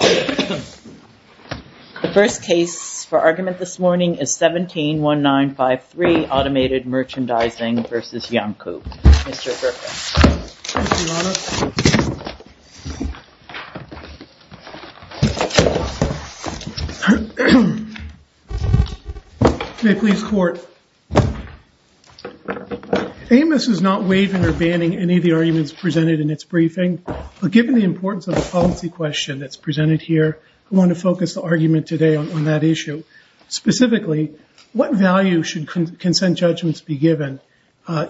The first case for argument this morning is 17-1953 Automated Merchandising v. Iancu. Mr. Berkowitz. May it please the Court. Amos is not waiving or banning any of the arguments presented in its briefing, but given the importance of the policy question that's presented here, I want to focus the argument today on that issue. Specifically, what value should consent judgments be given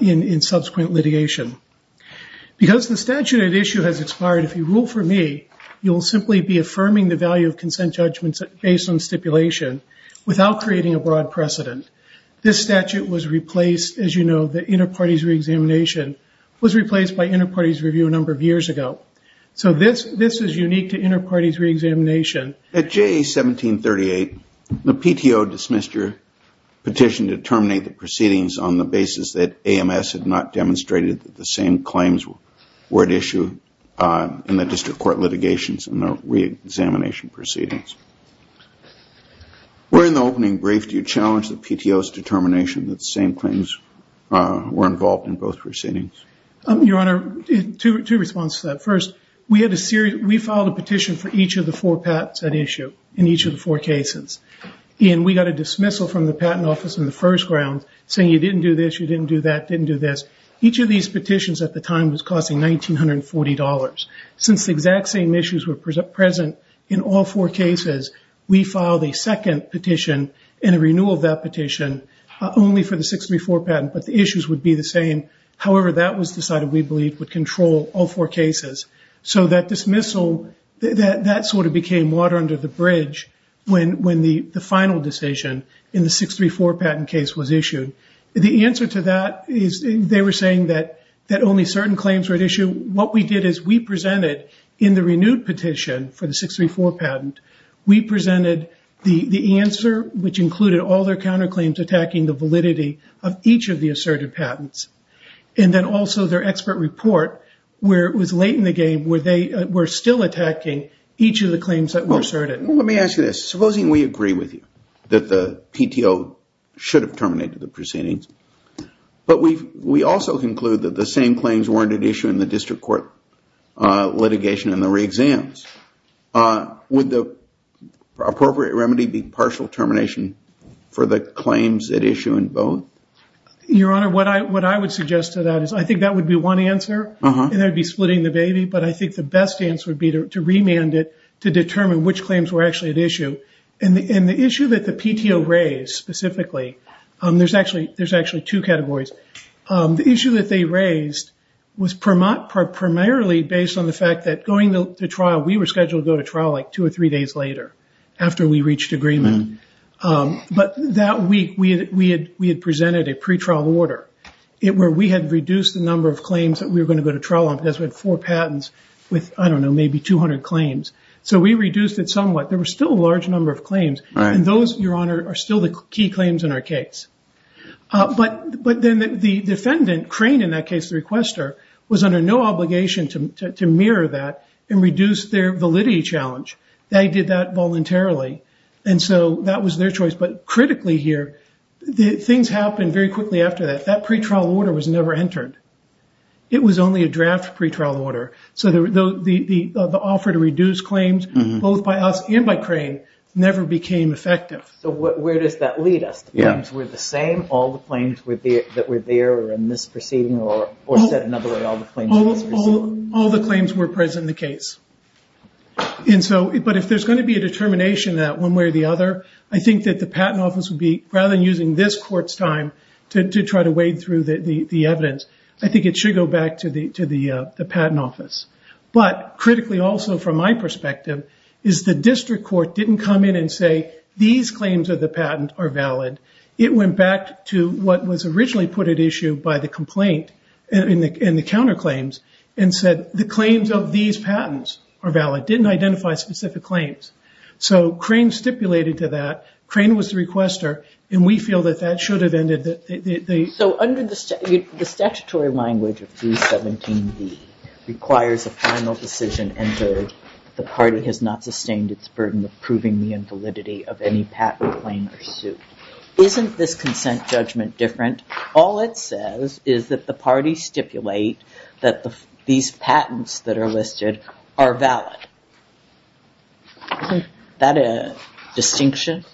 in subsequent litigation? Because the statute at issue has expired, if you rule for me, you'll simply be affirming the value of consent judgments based on stipulation without creating a broad precedent. This statute was replaced, as you know, the inter-parties re-examination was replaced by inter-parties review a number of years ago. So this is unique to inter-parties re-examination. At JA 1738, the PTO dismissed your petition to terminate the proceedings on the basis that AMS had not demonstrated that the same claims were at issue in the district court litigations and the re-examination proceedings. Where in the opening brief do you challenge the PTO's determination that the same claims were involved in both proceedings? Your Honor, two responses to that. First, we filed a petition for each of the four patents at issue in each of the four cases. And we got a dismissal from the Patent Office in the first round saying you didn't do this, you didn't do that, you didn't do this. Each of these petitions at the time was costing $1,940. Since the exact same issues were present in all four cases, we filed a second petition and a renewal of that petition only for the 634 patent, but the issues would be the same. However, that was decided we believed would control all four cases. So that dismissal, that sort of became water under the bridge when the final decision in the 634 patent case was issued. The answer to that is they were saying that only certain claims were at issue. What we did is we presented in the 634 patent, we presented the answer which included all their counterclaims attacking the validity of each of the asserted patents. And then also their expert report where it was late in the game where they were still attacking each of the claims that were asserted. Let me ask you this. Supposing we agree with you that the PTO should have terminated the proceedings, but we also conclude that the same claims weren't at issue in the district court litigation and the re-exams, would the appropriate remedy be partial termination for the claims at issue in both? Your Honor, what I would suggest to that is I think that would be one answer and that would be splitting the baby, but I think the best answer would be to remand it to determine which claims were actually at issue. And the issue that the PTO raised specifically, there's actually two categories. The issue that they are primarily based on the fact that going to trial, we were scheduled to go to trial like two or three days later after we reached agreement. But that week we had presented a pretrial order where we had reduced the number of claims that we were going to go to trial on because we had four patents with, I don't know, maybe 200 claims. So we reduced it somewhat. There were still a large number of claims and those, Your Honor, are still the key claims in our case. But then the defendant, Crane in that case, the requester, was under no obligation to mirror that and reduce their validity challenge. They did that voluntarily. And so that was their choice. But critically here, things happened very quickly after that. That pretrial order was never entered. It was only a draft pretrial order. So the offer to reduce claims, both by us and by Crane, never became effective. So where does that lead us? The claims were the same, all the claims that were there or All the claims were present in the case. But if there's going to be a determination that one way or the other, I think that the Patent Office would be, rather than using this court's time to try to wade through the evidence, I think it should go back to the Patent Office. But critically also, from my perspective, is the District Court didn't come in and say these claims of the patent are valid. It went back to what was originally put at the complaint in the counterclaims and said the claims of these patents are valid, didn't identify specific claims. So Crane stipulated to that. Crane was the requester. And we feel that that should have ended the... So under the statutory language of 317B requires a final decision entered. The party has not sustained its burden of proving the invalidity of any patent claim or suit. Isn't this consent judgment different? All it says is that the parties stipulate that these patents that are listed are valid. Isn't that a distinction?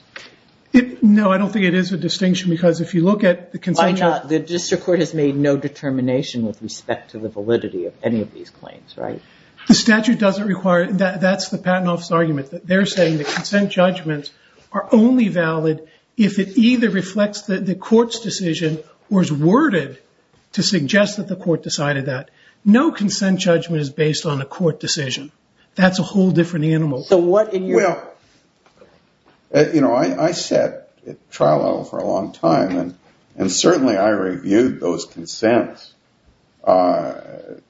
No, I don't think it is a distinction. Because if you look at the consent... Why not? The District Court has made no determination with respect to the validity of any of these claims, right? The statute doesn't require... That's the Patent Office argument, that they're saying consent judgments are only valid if it either reflects the court's decision or is worded to suggest that the court decided that. No consent judgment is based on a court decision. That's a whole different animal. So what in your... Well, you know, I sat at trial level for a long time and certainly I reviewed those consents from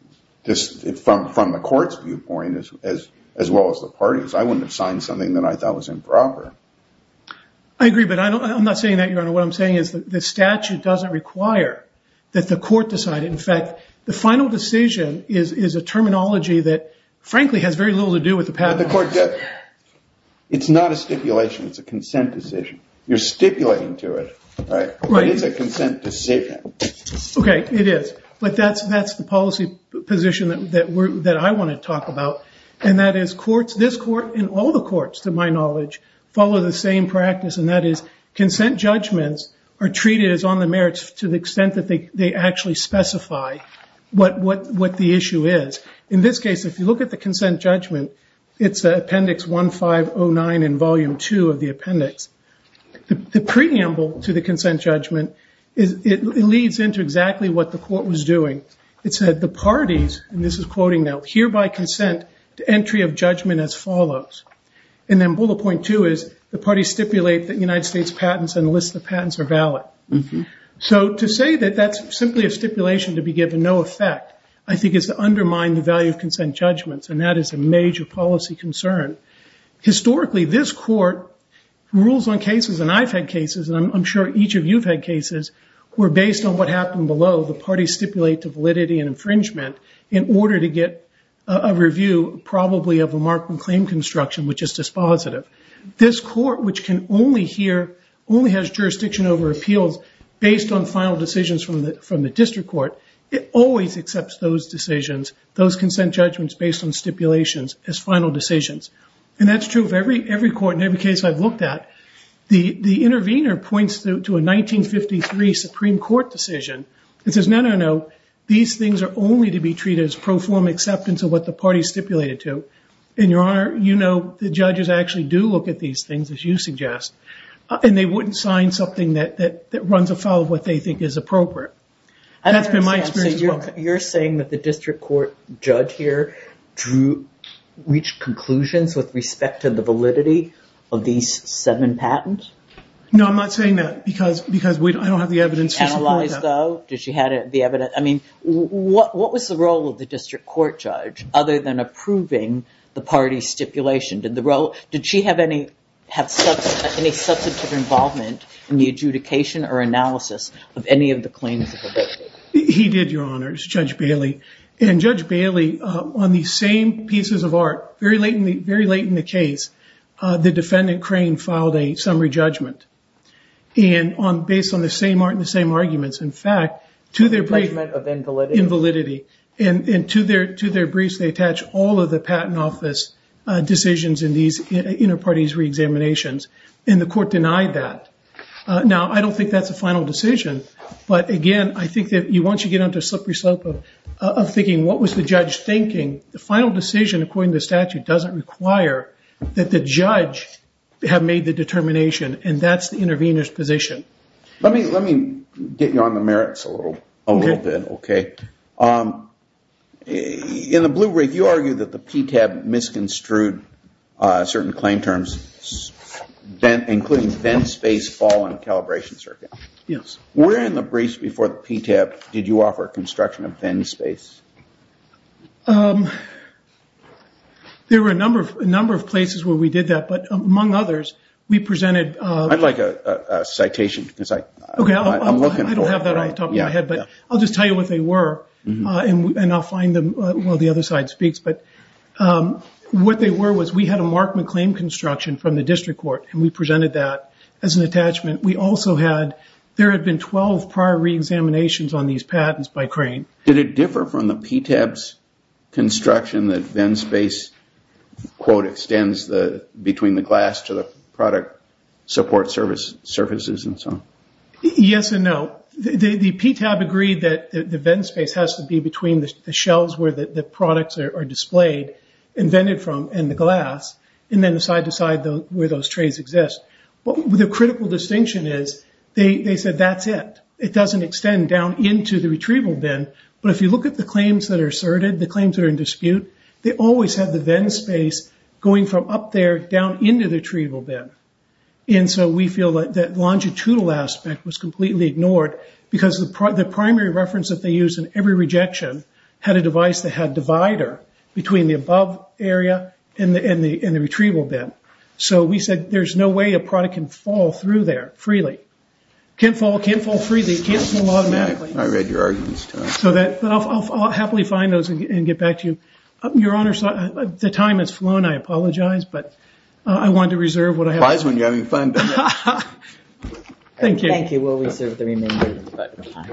the court's viewpoint as well as the party's. I wouldn't have signed something that I thought was improper. I agree, but I'm not saying that, Your Honor. What I'm saying is that the statute doesn't require that the court decide. In fact, the final decision is a terminology that frankly has very little to do with the Patent Office. It's not a stipulation. It's a consent decision. You're stipulating to it, right? Right. It is a consent decision. Okay, it is, but that's the policy position that I want to talk about and that is courts, this court and all the courts, to my knowledge, follow the same practice and that is consent judgments are treated as on the merits to the extent that they actually specify what the issue is. In this case, if you look at the consent judgment, it's Appendix 1509 in Volume 2 of the appendix. The preamble to the consent judgment, it leads into exactly what the court was doing. It said, the parties, and this is quoting now, hereby consent to entry of judgment as follows. And then bullet point two is the parties stipulate that United States patents and the list of patents are valid. So to say that that's simply a stipulation to be given no effect, I think is to undermine the value of consent judgments and that is a major policy concern. Historically, this court rules on cases, and I've had cases, and I'm sure each of you have had cases, where based on what happened below, the parties stipulate the validity and infringement in order to get a review, probably of a mark and claim construction, which is dispositive. This court, which can only hear, only has jurisdiction over appeals based on final decisions from the district court, it always accepts those decisions, those consent judgments based on stipulations as final decisions. And that's true of every court and every case I've looked at. The intervener points to a 1953 Supreme Court decision and says, no, no, no, these things are only to be treated as pro forma acceptance of what the party stipulated to. And Your Honor, you know the judges actually do look at these things, as you suggest, and they wouldn't sign something that runs afoul of what they think is appropriate. That's been my experience as well. You're saying that the district court judge here drew, reached conclusions with respect to the validity of these seven patents? No, I'm not saying that, because I don't have the evidence to support that. Analyzed though? Did she have the evidence? I mean, what was the role of the district court judge, other than approving the party stipulation? Did the role, did she have any substantive involvement in the adjudication or analysis of any of the claims that were made? He did, Your Honor, Judge Bailey. And Judge Bailey, on these same pieces of art, very late in the case, the defendant Crane filed a summary judgment. And based on the same art and the same arguments, in fact, to their briefs of invalidity, and to their briefs they attach all of the patent office decisions in these inter-parties re-examinations. And the court denied that. Now, I don't think that's a final decision. But again, I think that once you get onto a slippery slope of thinking, what was the judge thinking, the final decision, according to the statute, doesn't require that the judge have made the determination. And that's the intervener's position. Let me get you on the merits a little bit, OK? In the Blue Brief, you argue that the PTAB misconstrued certain claim terms, including Venn Space Fall and Calibration Circuit. Yes. Where in the briefs before the PTAB did you offer construction of Venn Space? There were a number of places where we did that. But among others, we presented- I'd like a citation, because I'm looking for one. OK, I don't have that off the top of my head. But I'll just tell you what they were, and I'll find them while the other side speaks. But what they were was we had a Mark McLean construction from the district court, and we presented that as an attachment. We also had- there had been 12 prior re-examinations on these patents by Crane. Did it differ from the PTAB's construction that Venn Space, quote, extends between the glass to the product support surfaces and so on? Yes and no. The PTAB agreed that the Venn Space has to be between the shelves where the products are displayed and vented from, and the glass, and then the side to side where those trays exist. But the critical distinction is they said that's it. It doesn't extend down into the retrieval bin. But if you look at the claims that are asserted, the claims that are in dispute, they always have the Venn Space going from up there down into the retrieval bin. And so we feel that longitudinal aspect was completely ignored because the primary reference that they use in every rejection had a device that had a divider between the above area and the retrieval bin. So we said there's no way a product can fall through there freely. Can't fall, can't fall freely, can't fall automatically. I read your arguments, Tom. So that- I'll happily find those and get back to you. Your Honor, the time has flown. I apologize, but I wanted to reserve what I have- Wiseman, you're having fun. Thank you. Thank you. I will reserve the remainder of the time.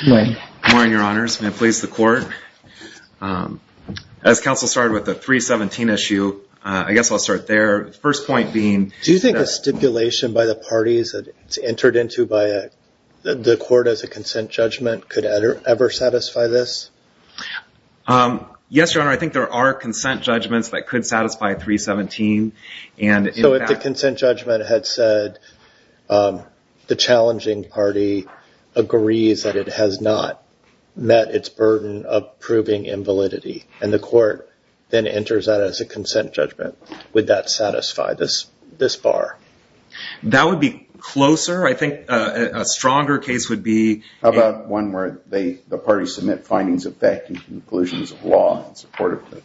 Good morning. Good morning, Your Honors. May it please the Court. As counsel started with the 317 issue, I guess I'll start there. First point being- Do you think a stipulation by the parties that it's entered into by the court as a consent judgment could ever satisfy this? Yes, Your Honor. I think there are consent judgments that could satisfy 317. And in fact- So if the consent judgment had said the challenging party agrees that it has not met its burden of proving invalidity, and the court then enters that as a consent judgment, would that satisfy this bar? That would be closer. I think a stronger case would be- How about one where the parties submit findings of fact and conclusions of law in support of that?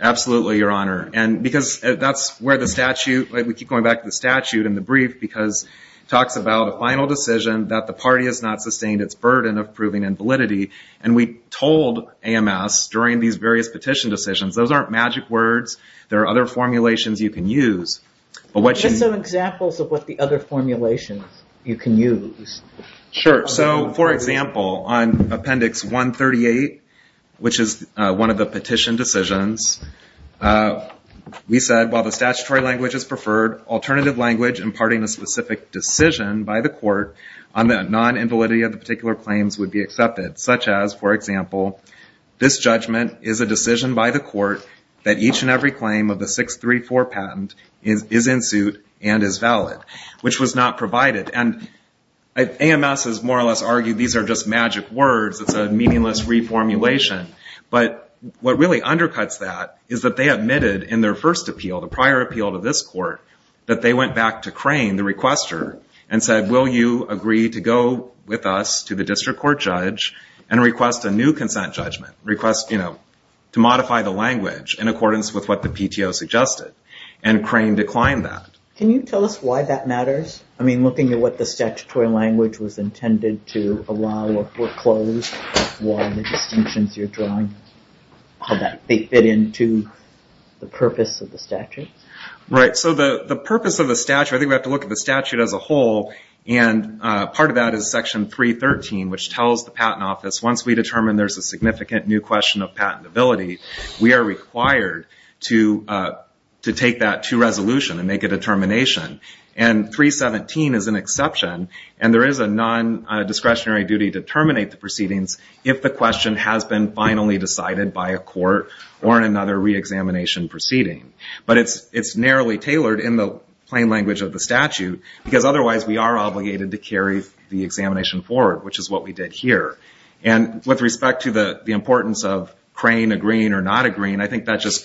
Absolutely, Your Honor. And because that's where the statute, we keep going back to the statute in the brief, because it talks about a final decision that the party has not sustained its burden of proving invalidity. And we told AMS during these various petition decisions, those aren't magic words. There are other formulations you can use. But what you- Give us some examples of what the other formulations you can use. Sure. So for example, on Appendix 138, which is one of the petition decisions, we said, while the statutory language is preferred, alternative language imparting a specific decision by the court on the non-invalidity of the particular claims would be accepted. Such as, for example, this judgment is a decision by the court that each and every claim of the 634 patent is in suit and is valid, which was not provided. And AMS has more or less argued these are just magic words, it's a meaningless reformulation. But what really undercuts that is that they admitted in their first appeal, the prior appeal to this court, that they went back to Crane, the requester, and said, will you agree to go with us to the district court judge and request a new consent judgment? Request to modify the language in accordance with what the PTO suggested. And Crane declined that. Can you tell us why that matters? I mean, looking at what the statutory language was intended to allow or foreclose, why the distinctions you're drawing, how they fit into the purpose of the statute? Right. So the purpose of the statute, I think we have to look at the statute as a whole. And part of that is Section 313, which tells the Patent Office, once we determine there's a significant new question of patentability, we are required to take that to resolution and make a determination. And 317 is an exception. And there is a non-discretionary duty to terminate the proceedings if the question has been finally decided by a court or in another re-examination proceeding. But it's narrowly tailored in the plain language of the statute, because otherwise we are obligated to carry the examination forward, which is what we did here. And with respect to the importance of Crane agreeing or not agreeing, I think that just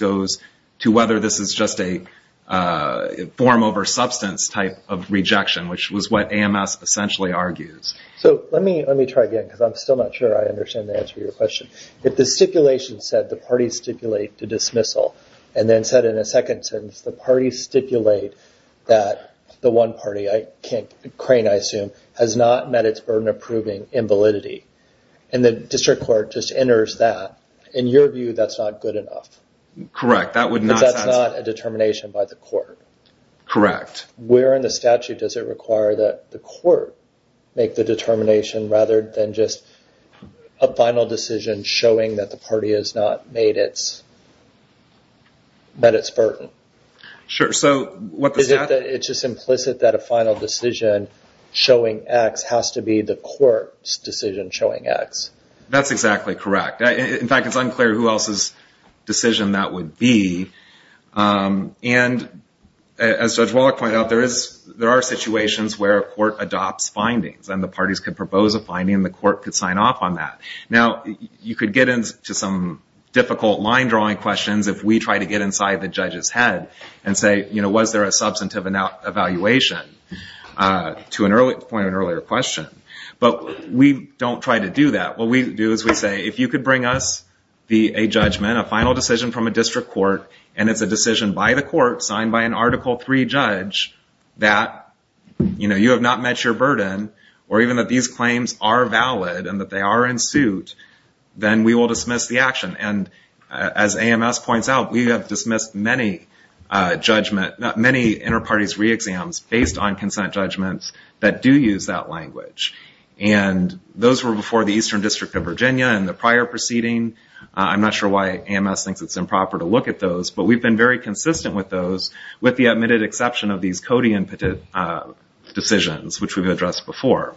a form over substance type of rejection, which was what AMS essentially argues. So let me try again, because I'm still not sure I understand the answer to your question. If the stipulation said the parties stipulate the dismissal, and then said in a second sentence, the parties stipulate that the one party, Crane I assume, has not met its burden of proving invalidity, and the district court just enters that, in your view that's not good enough? Correct. That would not satisfy. But that's not a determination by the court. Correct. Where in the statute does it require that the court make the determination, rather than just a final decision showing that the party has not met its burden? Sure. So what the statute- Is it just implicit that a final decision showing X has to be the court's decision showing X? That's exactly correct. In fact, it's unclear who else's decision that would be. And as Judge Wallach pointed out, there are situations where a court adopts findings, and the parties could propose a finding, and the court could sign off on that. Now, you could get into some difficult line drawing questions if we try to get inside the judge's head and say, was there a substantive evaluation, to the point of an earlier question. But we don't try to do that. What we do is we say, if you could bring us a judgment, a final decision from a district court, and it's a decision by the court, signed by an Article III judge, that you have not met your burden, or even that these claims are valid, and that they are in suit, then we will dismiss the action. And as AMS points out, we have dismissed many inter-parties re-exams based on consent judgments that do use that language. And those were before the Eastern District of Virginia, and the prior proceeding. I'm not sure why AMS thinks it's improper to look at those, but we've been very consistent with those, with the admitted exception of these Cody decisions, which we've addressed before.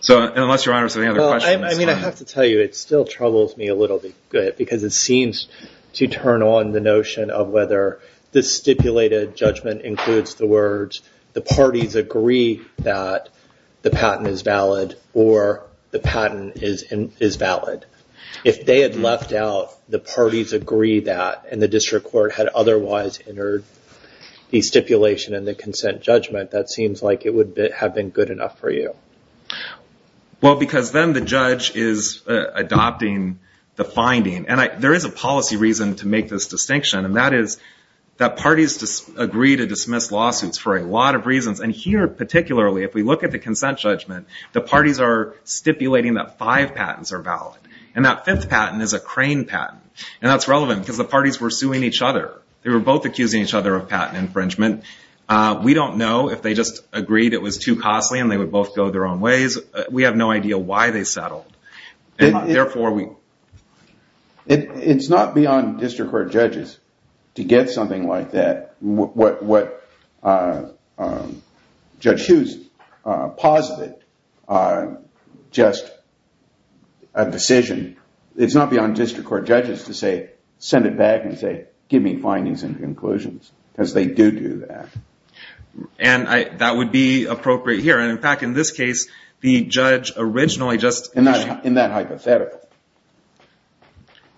So, unless, Your Honor, there's any other questions. Well, I mean, I have to tell you, it still troubles me a little bit, because it seems to turn on the notion of whether the stipulated judgment includes the words, the parties agree that the patent is valid, or the patent is valid. If they had left out the parties agree that, and the district court had otherwise entered the stipulation and the consent judgment, that seems like it would have been good enough for you. Well, because then the judge is adopting the finding. And there is a policy reason to make this distinction, and that is that parties agree to dismiss lawsuits for a lot of reasons. And here, particularly, if we look at the consent judgment, the parties are stipulating that five patents are valid. And that fifth patent is a crane patent, and that's relevant, because the parties were suing each other. They were both accusing each other of patent infringement. We don't know if they just agreed it was too costly, and they would both go their own ways. We have no idea why they settled, and therefore we... It's not beyond district court judges to get something like that, what Judge Hughes posited, just a decision. It's not beyond district court judges to say, send it back and say, give me findings and conclusions, because they do do that. And that would be appropriate here. And in fact, in this case, the judge originally just... In that hypothetical.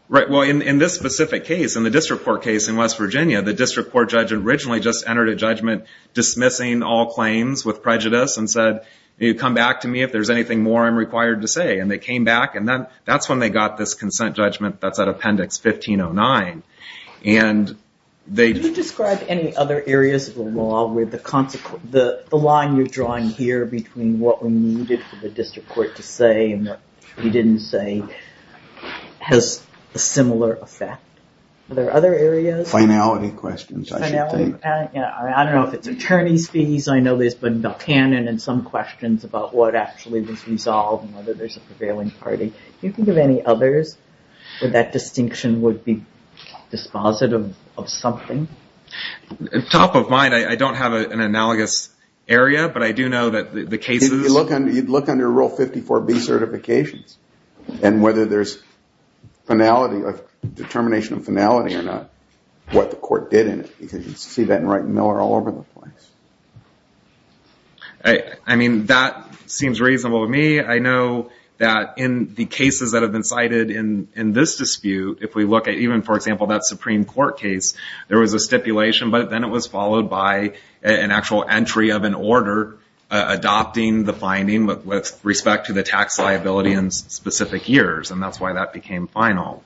Right. Well, in this specific case, in the district court case in West Virginia, the district court judge originally just entered a judgment dismissing all claims with prejudice and said, you come back to me if there's anything more I'm required to say. And they came back, and that's when they got this consent judgment that's at Appendix 1509. And they... Can you describe any other areas of the law where the line you're drawing here between what we needed for the district court to say and what you didn't say has a similar effect? Are there other areas? Finality questions, I should think. Finality? Yeah. I don't know if it's attorney's fees. I know there's been no canon in some questions about what actually was resolved and whether there's a prevailing party. Do you think of any others where that distinction would be dispositive of something? Top of mind, I don't have an analogous area, but I do know that the cases... You'd look under Rule 54B certifications, and whether there's finality or determination of finality or not, what the court did in it, because you see that in Wright and Miller all over the place. I mean, that seems reasonable to me. I know that in the cases that have been cited in this dispute, if we look at even, for example, that Supreme Court case, there was a stipulation, but then it was followed by an actual entry of an order adopting the finding with respect to the tax liability in specific years, and that's why that became final.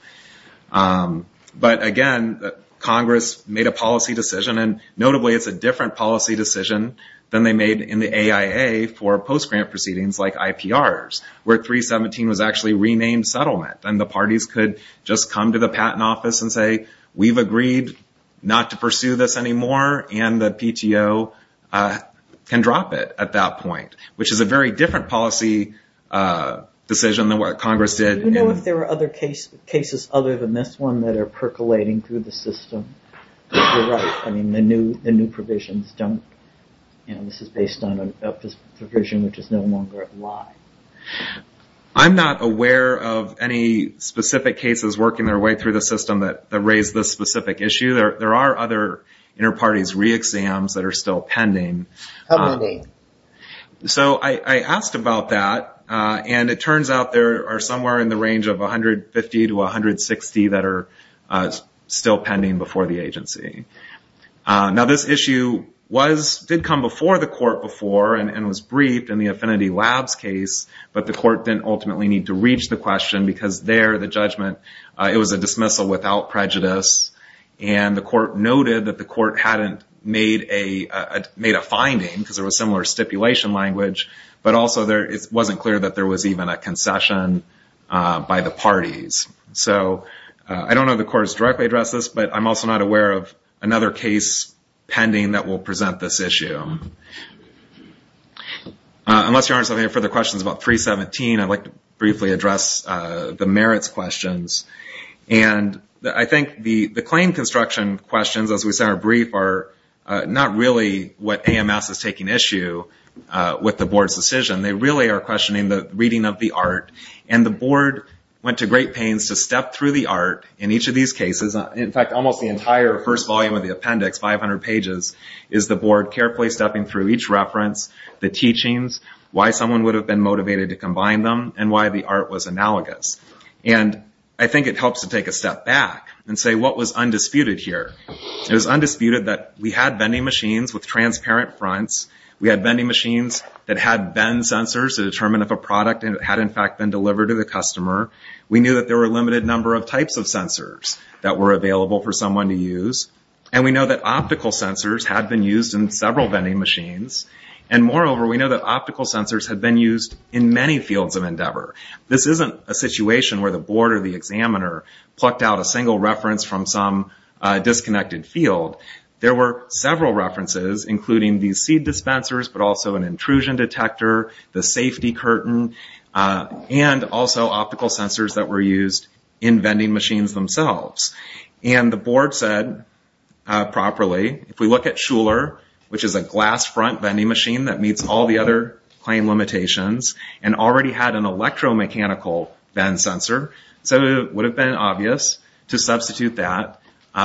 But, again, Congress made a policy decision, and notably, it's a different policy decision than they made in the AIA for post-grant proceedings like IPRs, where 317 was actually renamed settlement. The parties could just come to the patent office and say, we've agreed not to pursue this anymore, and the PTO can drop it at that point, which is a very different policy decision than what Congress did. Do you know if there were other cases other than this one that are percolating through the system? I mean, the new provisions don't... This is based on a provision which is no longer in line. I'm not aware of any specific cases working their way through the system that raise this specific issue. There are other inter-parties re-exams that are still pending. How many? So I asked about that, and it turns out there are somewhere in the range of 150 to 160 that are still pending before the agency. Now, this issue did come before the court before and was briefed in the Affinity Labs case, but the court didn't ultimately need to reach the question because there, the judgment, it was a dismissal without prejudice, and the court noted that the court hadn't made a finding because there was similar stipulation language, but also it wasn't clear that there was even a concession by the parties. So I don't know if the court has directly addressed this, but I'm also not aware of another case pending that will present this issue. Unless Your Honor has any further questions about 317, I'd like to briefly address the merits questions, and I think the claim construction questions, as we said, are brief, are not really what AMS is taking issue with the board's decision. They really are questioning the reading of the art, and the board went to great pains to step through the art in each of these cases, in fact, almost the entire first volume of the appendix, 500 pages, is the board carefully stepping through each reference, the teachings, why someone would have been motivated to combine them, and why the art was analogous. I think it helps to take a step back and say, what was undisputed here? It was undisputed that we had vending machines with transparent fronts, we had vending machines that had bend sensors to determine if a product had, in fact, been delivered to the customer, we knew that there were a limited number of types of sensors that were available for someone to use, and we know that optical sensors had been used in several vending machines, and moreover, we know that optical sensors had been used in many fields of endeavor. This isn't a situation where the board or the examiner plucked out a single reference from some disconnected field. There were several references, including these seed dispensers, but also an intrusion detector, the safety curtain, and also optical sensors that were used in vending machines themselves. The board said, properly, if we look at Schuler, which is a glass front vending machine that meets all the other claim limitations, and already had an electromechanical bend sensor, so it would have been obvious to substitute that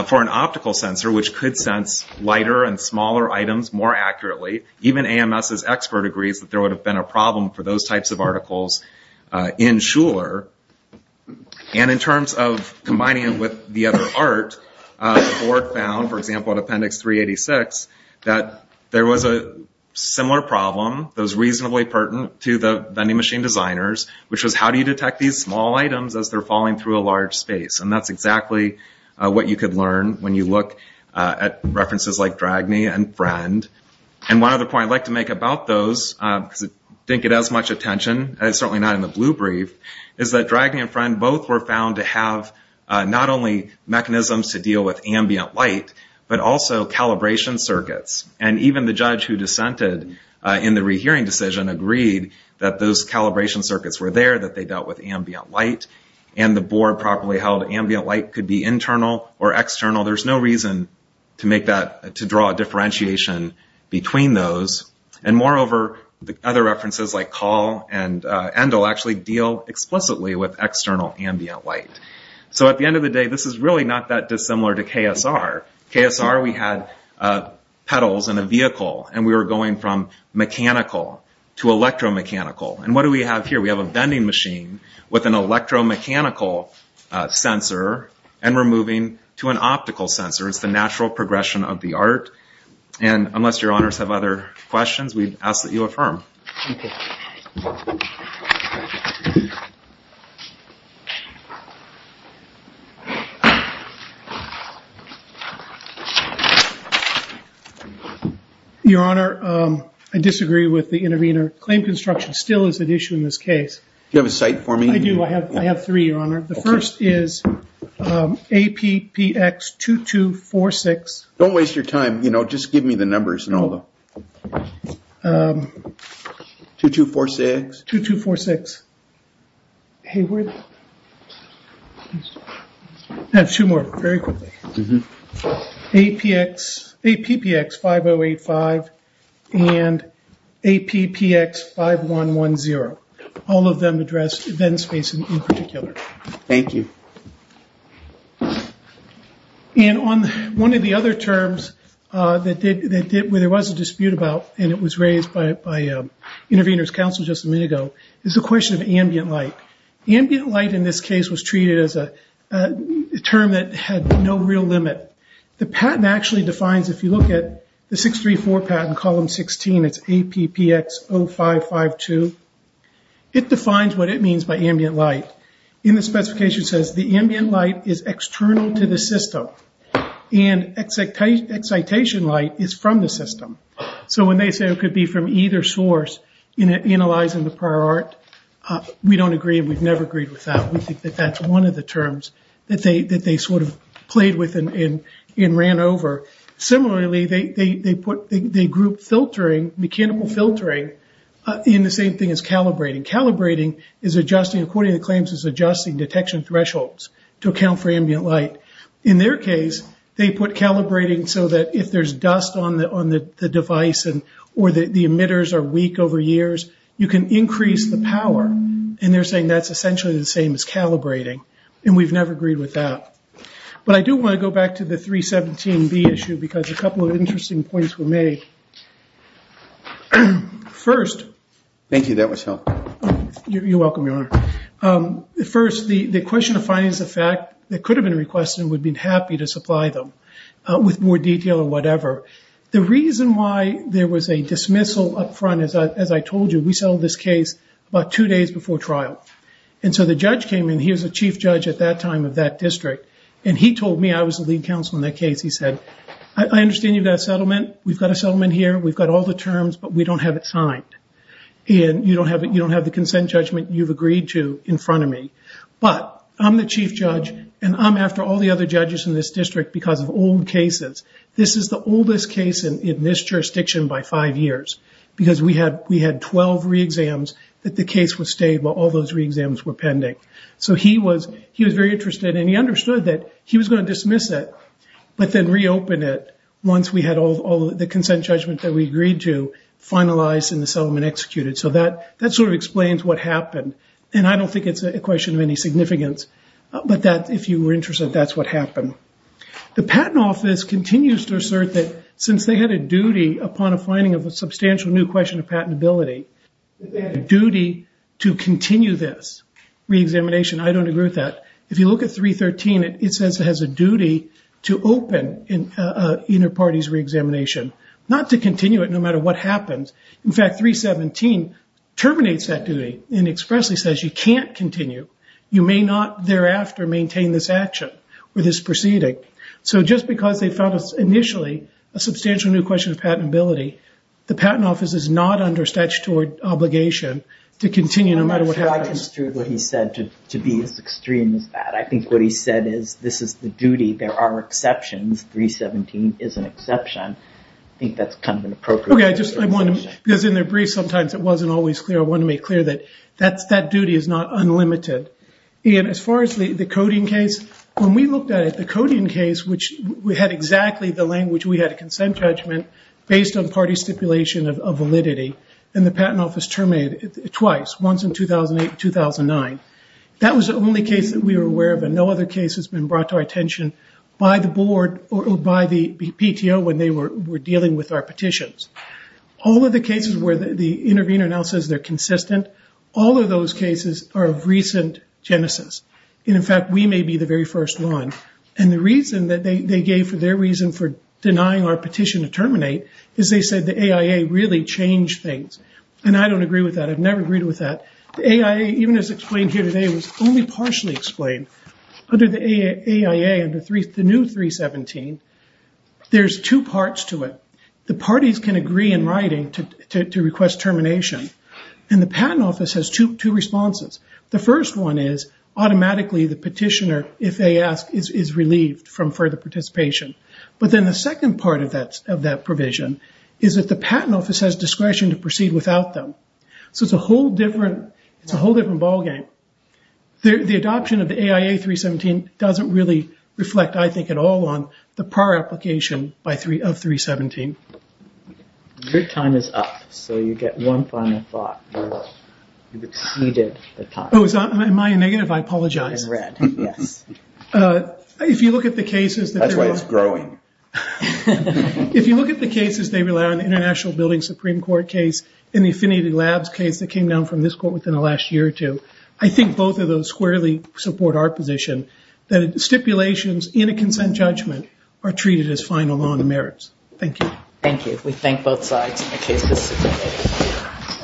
for an optical sensor, which could sense lighter and smaller items more accurately, even AMS's expert agrees that there would have been a problem for those types of articles in Schuler, and in terms of combining it with the other art, the board found, for example, in appendix 386 that there was a similar problem that was reasonably pertinent to the vending machine designers, which was how do you detect these small items as they're falling through a large space, and that's exactly what you could learn when you look at references like Dragne and Friend, and one other point I'd like to make about those, because it didn't get as much attention, and it's certainly not in the blue brief, is that Dragne and Friend both were found to have not only mechanisms to deal with ambient light, but also calibration circuits, and even the judge who dissented in the rehearing decision agreed that those calibration circuits were there, that they dealt with ambient light, and the board probably held ambient light could be internal or external, there's no reason to make that, to draw a differentiation between those, and moreover, other references like Call and Endel actually deal explicitly with external ambient light, so at the end of the day, this is really not that dissimilar to KSR, KSR we had pedals in a vehicle, and we were going from mechanical to electromechanical, and what do we have here, we have a vending machine with an electromechanical sensor, and we're moving to an optical sensor, it's the natural progression of the art, and unless your honors have other questions, we ask that you affirm. Your honor, I disagree with the intervener, claim construction still is an issue in this case. Do you have a cite for me? I do, I have three, your honor, the first is APPX2246, don't waste your time, just give me the numbers and all of them, 2246, 2246, I have two more, very quickly, APPX5085 and APPX5110, all of them address event space in particular. Thank you. One of the other terms that there was a dispute about, and it was raised by intervener's counsel just a minute ago, is the question of ambient light. Ambient light in this case was treated as a term that had no real limit. The patent actually defines, if you look at the 634 patent, column 16, it's APPX0552, it defines what it means by ambient light. In the specification it says the ambient light is external to the system, and excitation light is from the system. So when they say it could be from either source, analyzing the prior art, we don't agree, we've never agreed with that. We think that that's one of the terms that they sort of played with and ran over. Similarly, they grouped filtering, mechanical filtering, in the same thing as calibrating. Calibrating is adjusting, according to the claims, is adjusting detection thresholds to account for ambient light. In their case, they put calibrating so that if there's dust on the device or the emitters are weak over years, you can increase the power, and they're saying that's essentially the same as calibrating, and we've never agreed with that. But I do want to go back to the 317B issue, because a couple of interesting points were made. First... Thank you, that was helpful. You're welcome, Your Honor. First, the question of findings of fact that could have been requested and would have been happy to supply them with more detail or whatever. The reason why there was a dismissal up front, as I told you, we settled this case about two days before trial. So the judge came in, he was the chief judge at that time of that district, and he told me, I was the lead counsel in that case, he said, I understand you've got a settlement, we've got a settlement here, we've got all the terms, but we don't have it signed. You don't have the consent judgment you've agreed to in front of me. But I'm the chief judge, and I'm after all the other judges in this district because of old cases. This is the oldest case in this jurisdiction by five years, because we had 12 re-exams that the case was stable, all those re-exams were pending. So he was very interested, and he understood that he was going to dismiss it, but then reopen it once we had all the consent judgment that we agreed to finalized and the settlement executed. So that sort of explains what happened. And I don't think it's a question of any significance, but if you were interested, that's what happened. The Patent Office continues to assert that since they had a duty upon a finding of a duty to continue this re-examination, I don't agree with that. If you look at 313, it says it has a duty to open an inter-parties re-examination, not to continue it no matter what happens. In fact, 317 terminates that duty and expressly says you can't continue. You may not thereafter maintain this action or this proceeding. So just because they found initially a substantial new question of patentability, the Patent Office has no obligation to continue no matter what happens. I'm not sure I understood what he said to be as extreme as that. I think what he said is this is the duty. There are exceptions. 317 is an exception. I think that's kind of an appropriate way of putting it. Okay. I just, I want to, because in their brief sometimes it wasn't always clear. I want to make clear that that's, that duty is not unlimited. And as far as the coding case, when we looked at it, the coding case, which we had exactly the language we had a consent judgment based on party stipulation of validity, and the Patent Office terminated it twice, once in 2008 and 2009. That was the only case that we were aware of and no other case has been brought to our attention by the board or by the PTO when they were dealing with our petitions. All of the cases where the intervener now says they're consistent, all of those cases are of recent genesis. And in fact, we may be the very first one. And the reason that they gave for their reason for denying our petition to terminate is they said the AIA really changed things. And I don't agree with that. I've never agreed with that. The AIA, even as explained here today, was only partially explained. Under the AIA, under the new 317, there's two parts to it. The parties can agree in writing to request termination. And the Patent Office has two responses. The first one is automatically the petitioner, if they ask, is relieved from further participation. But then the second part of that provision is that the Patent Office has discretion to proceed without them. So it's a whole different ballgame. The adoption of the AIA 317 doesn't really reflect, I think, at all on the prior application of 317. Your time is up. So you get one final thought. You've exceeded the time. Am I negative? I apologize. In red, yes. That's why it's growing. If you look at the cases, they rely on the International Building Supreme Court case and the Affinity Labs case that came down from this court within the last year or two, I think both of those squarely support our position that stipulations in a consent judgment are treated as final law and merits. Thank you. Thank you. We thank both sides in the case this is submitted.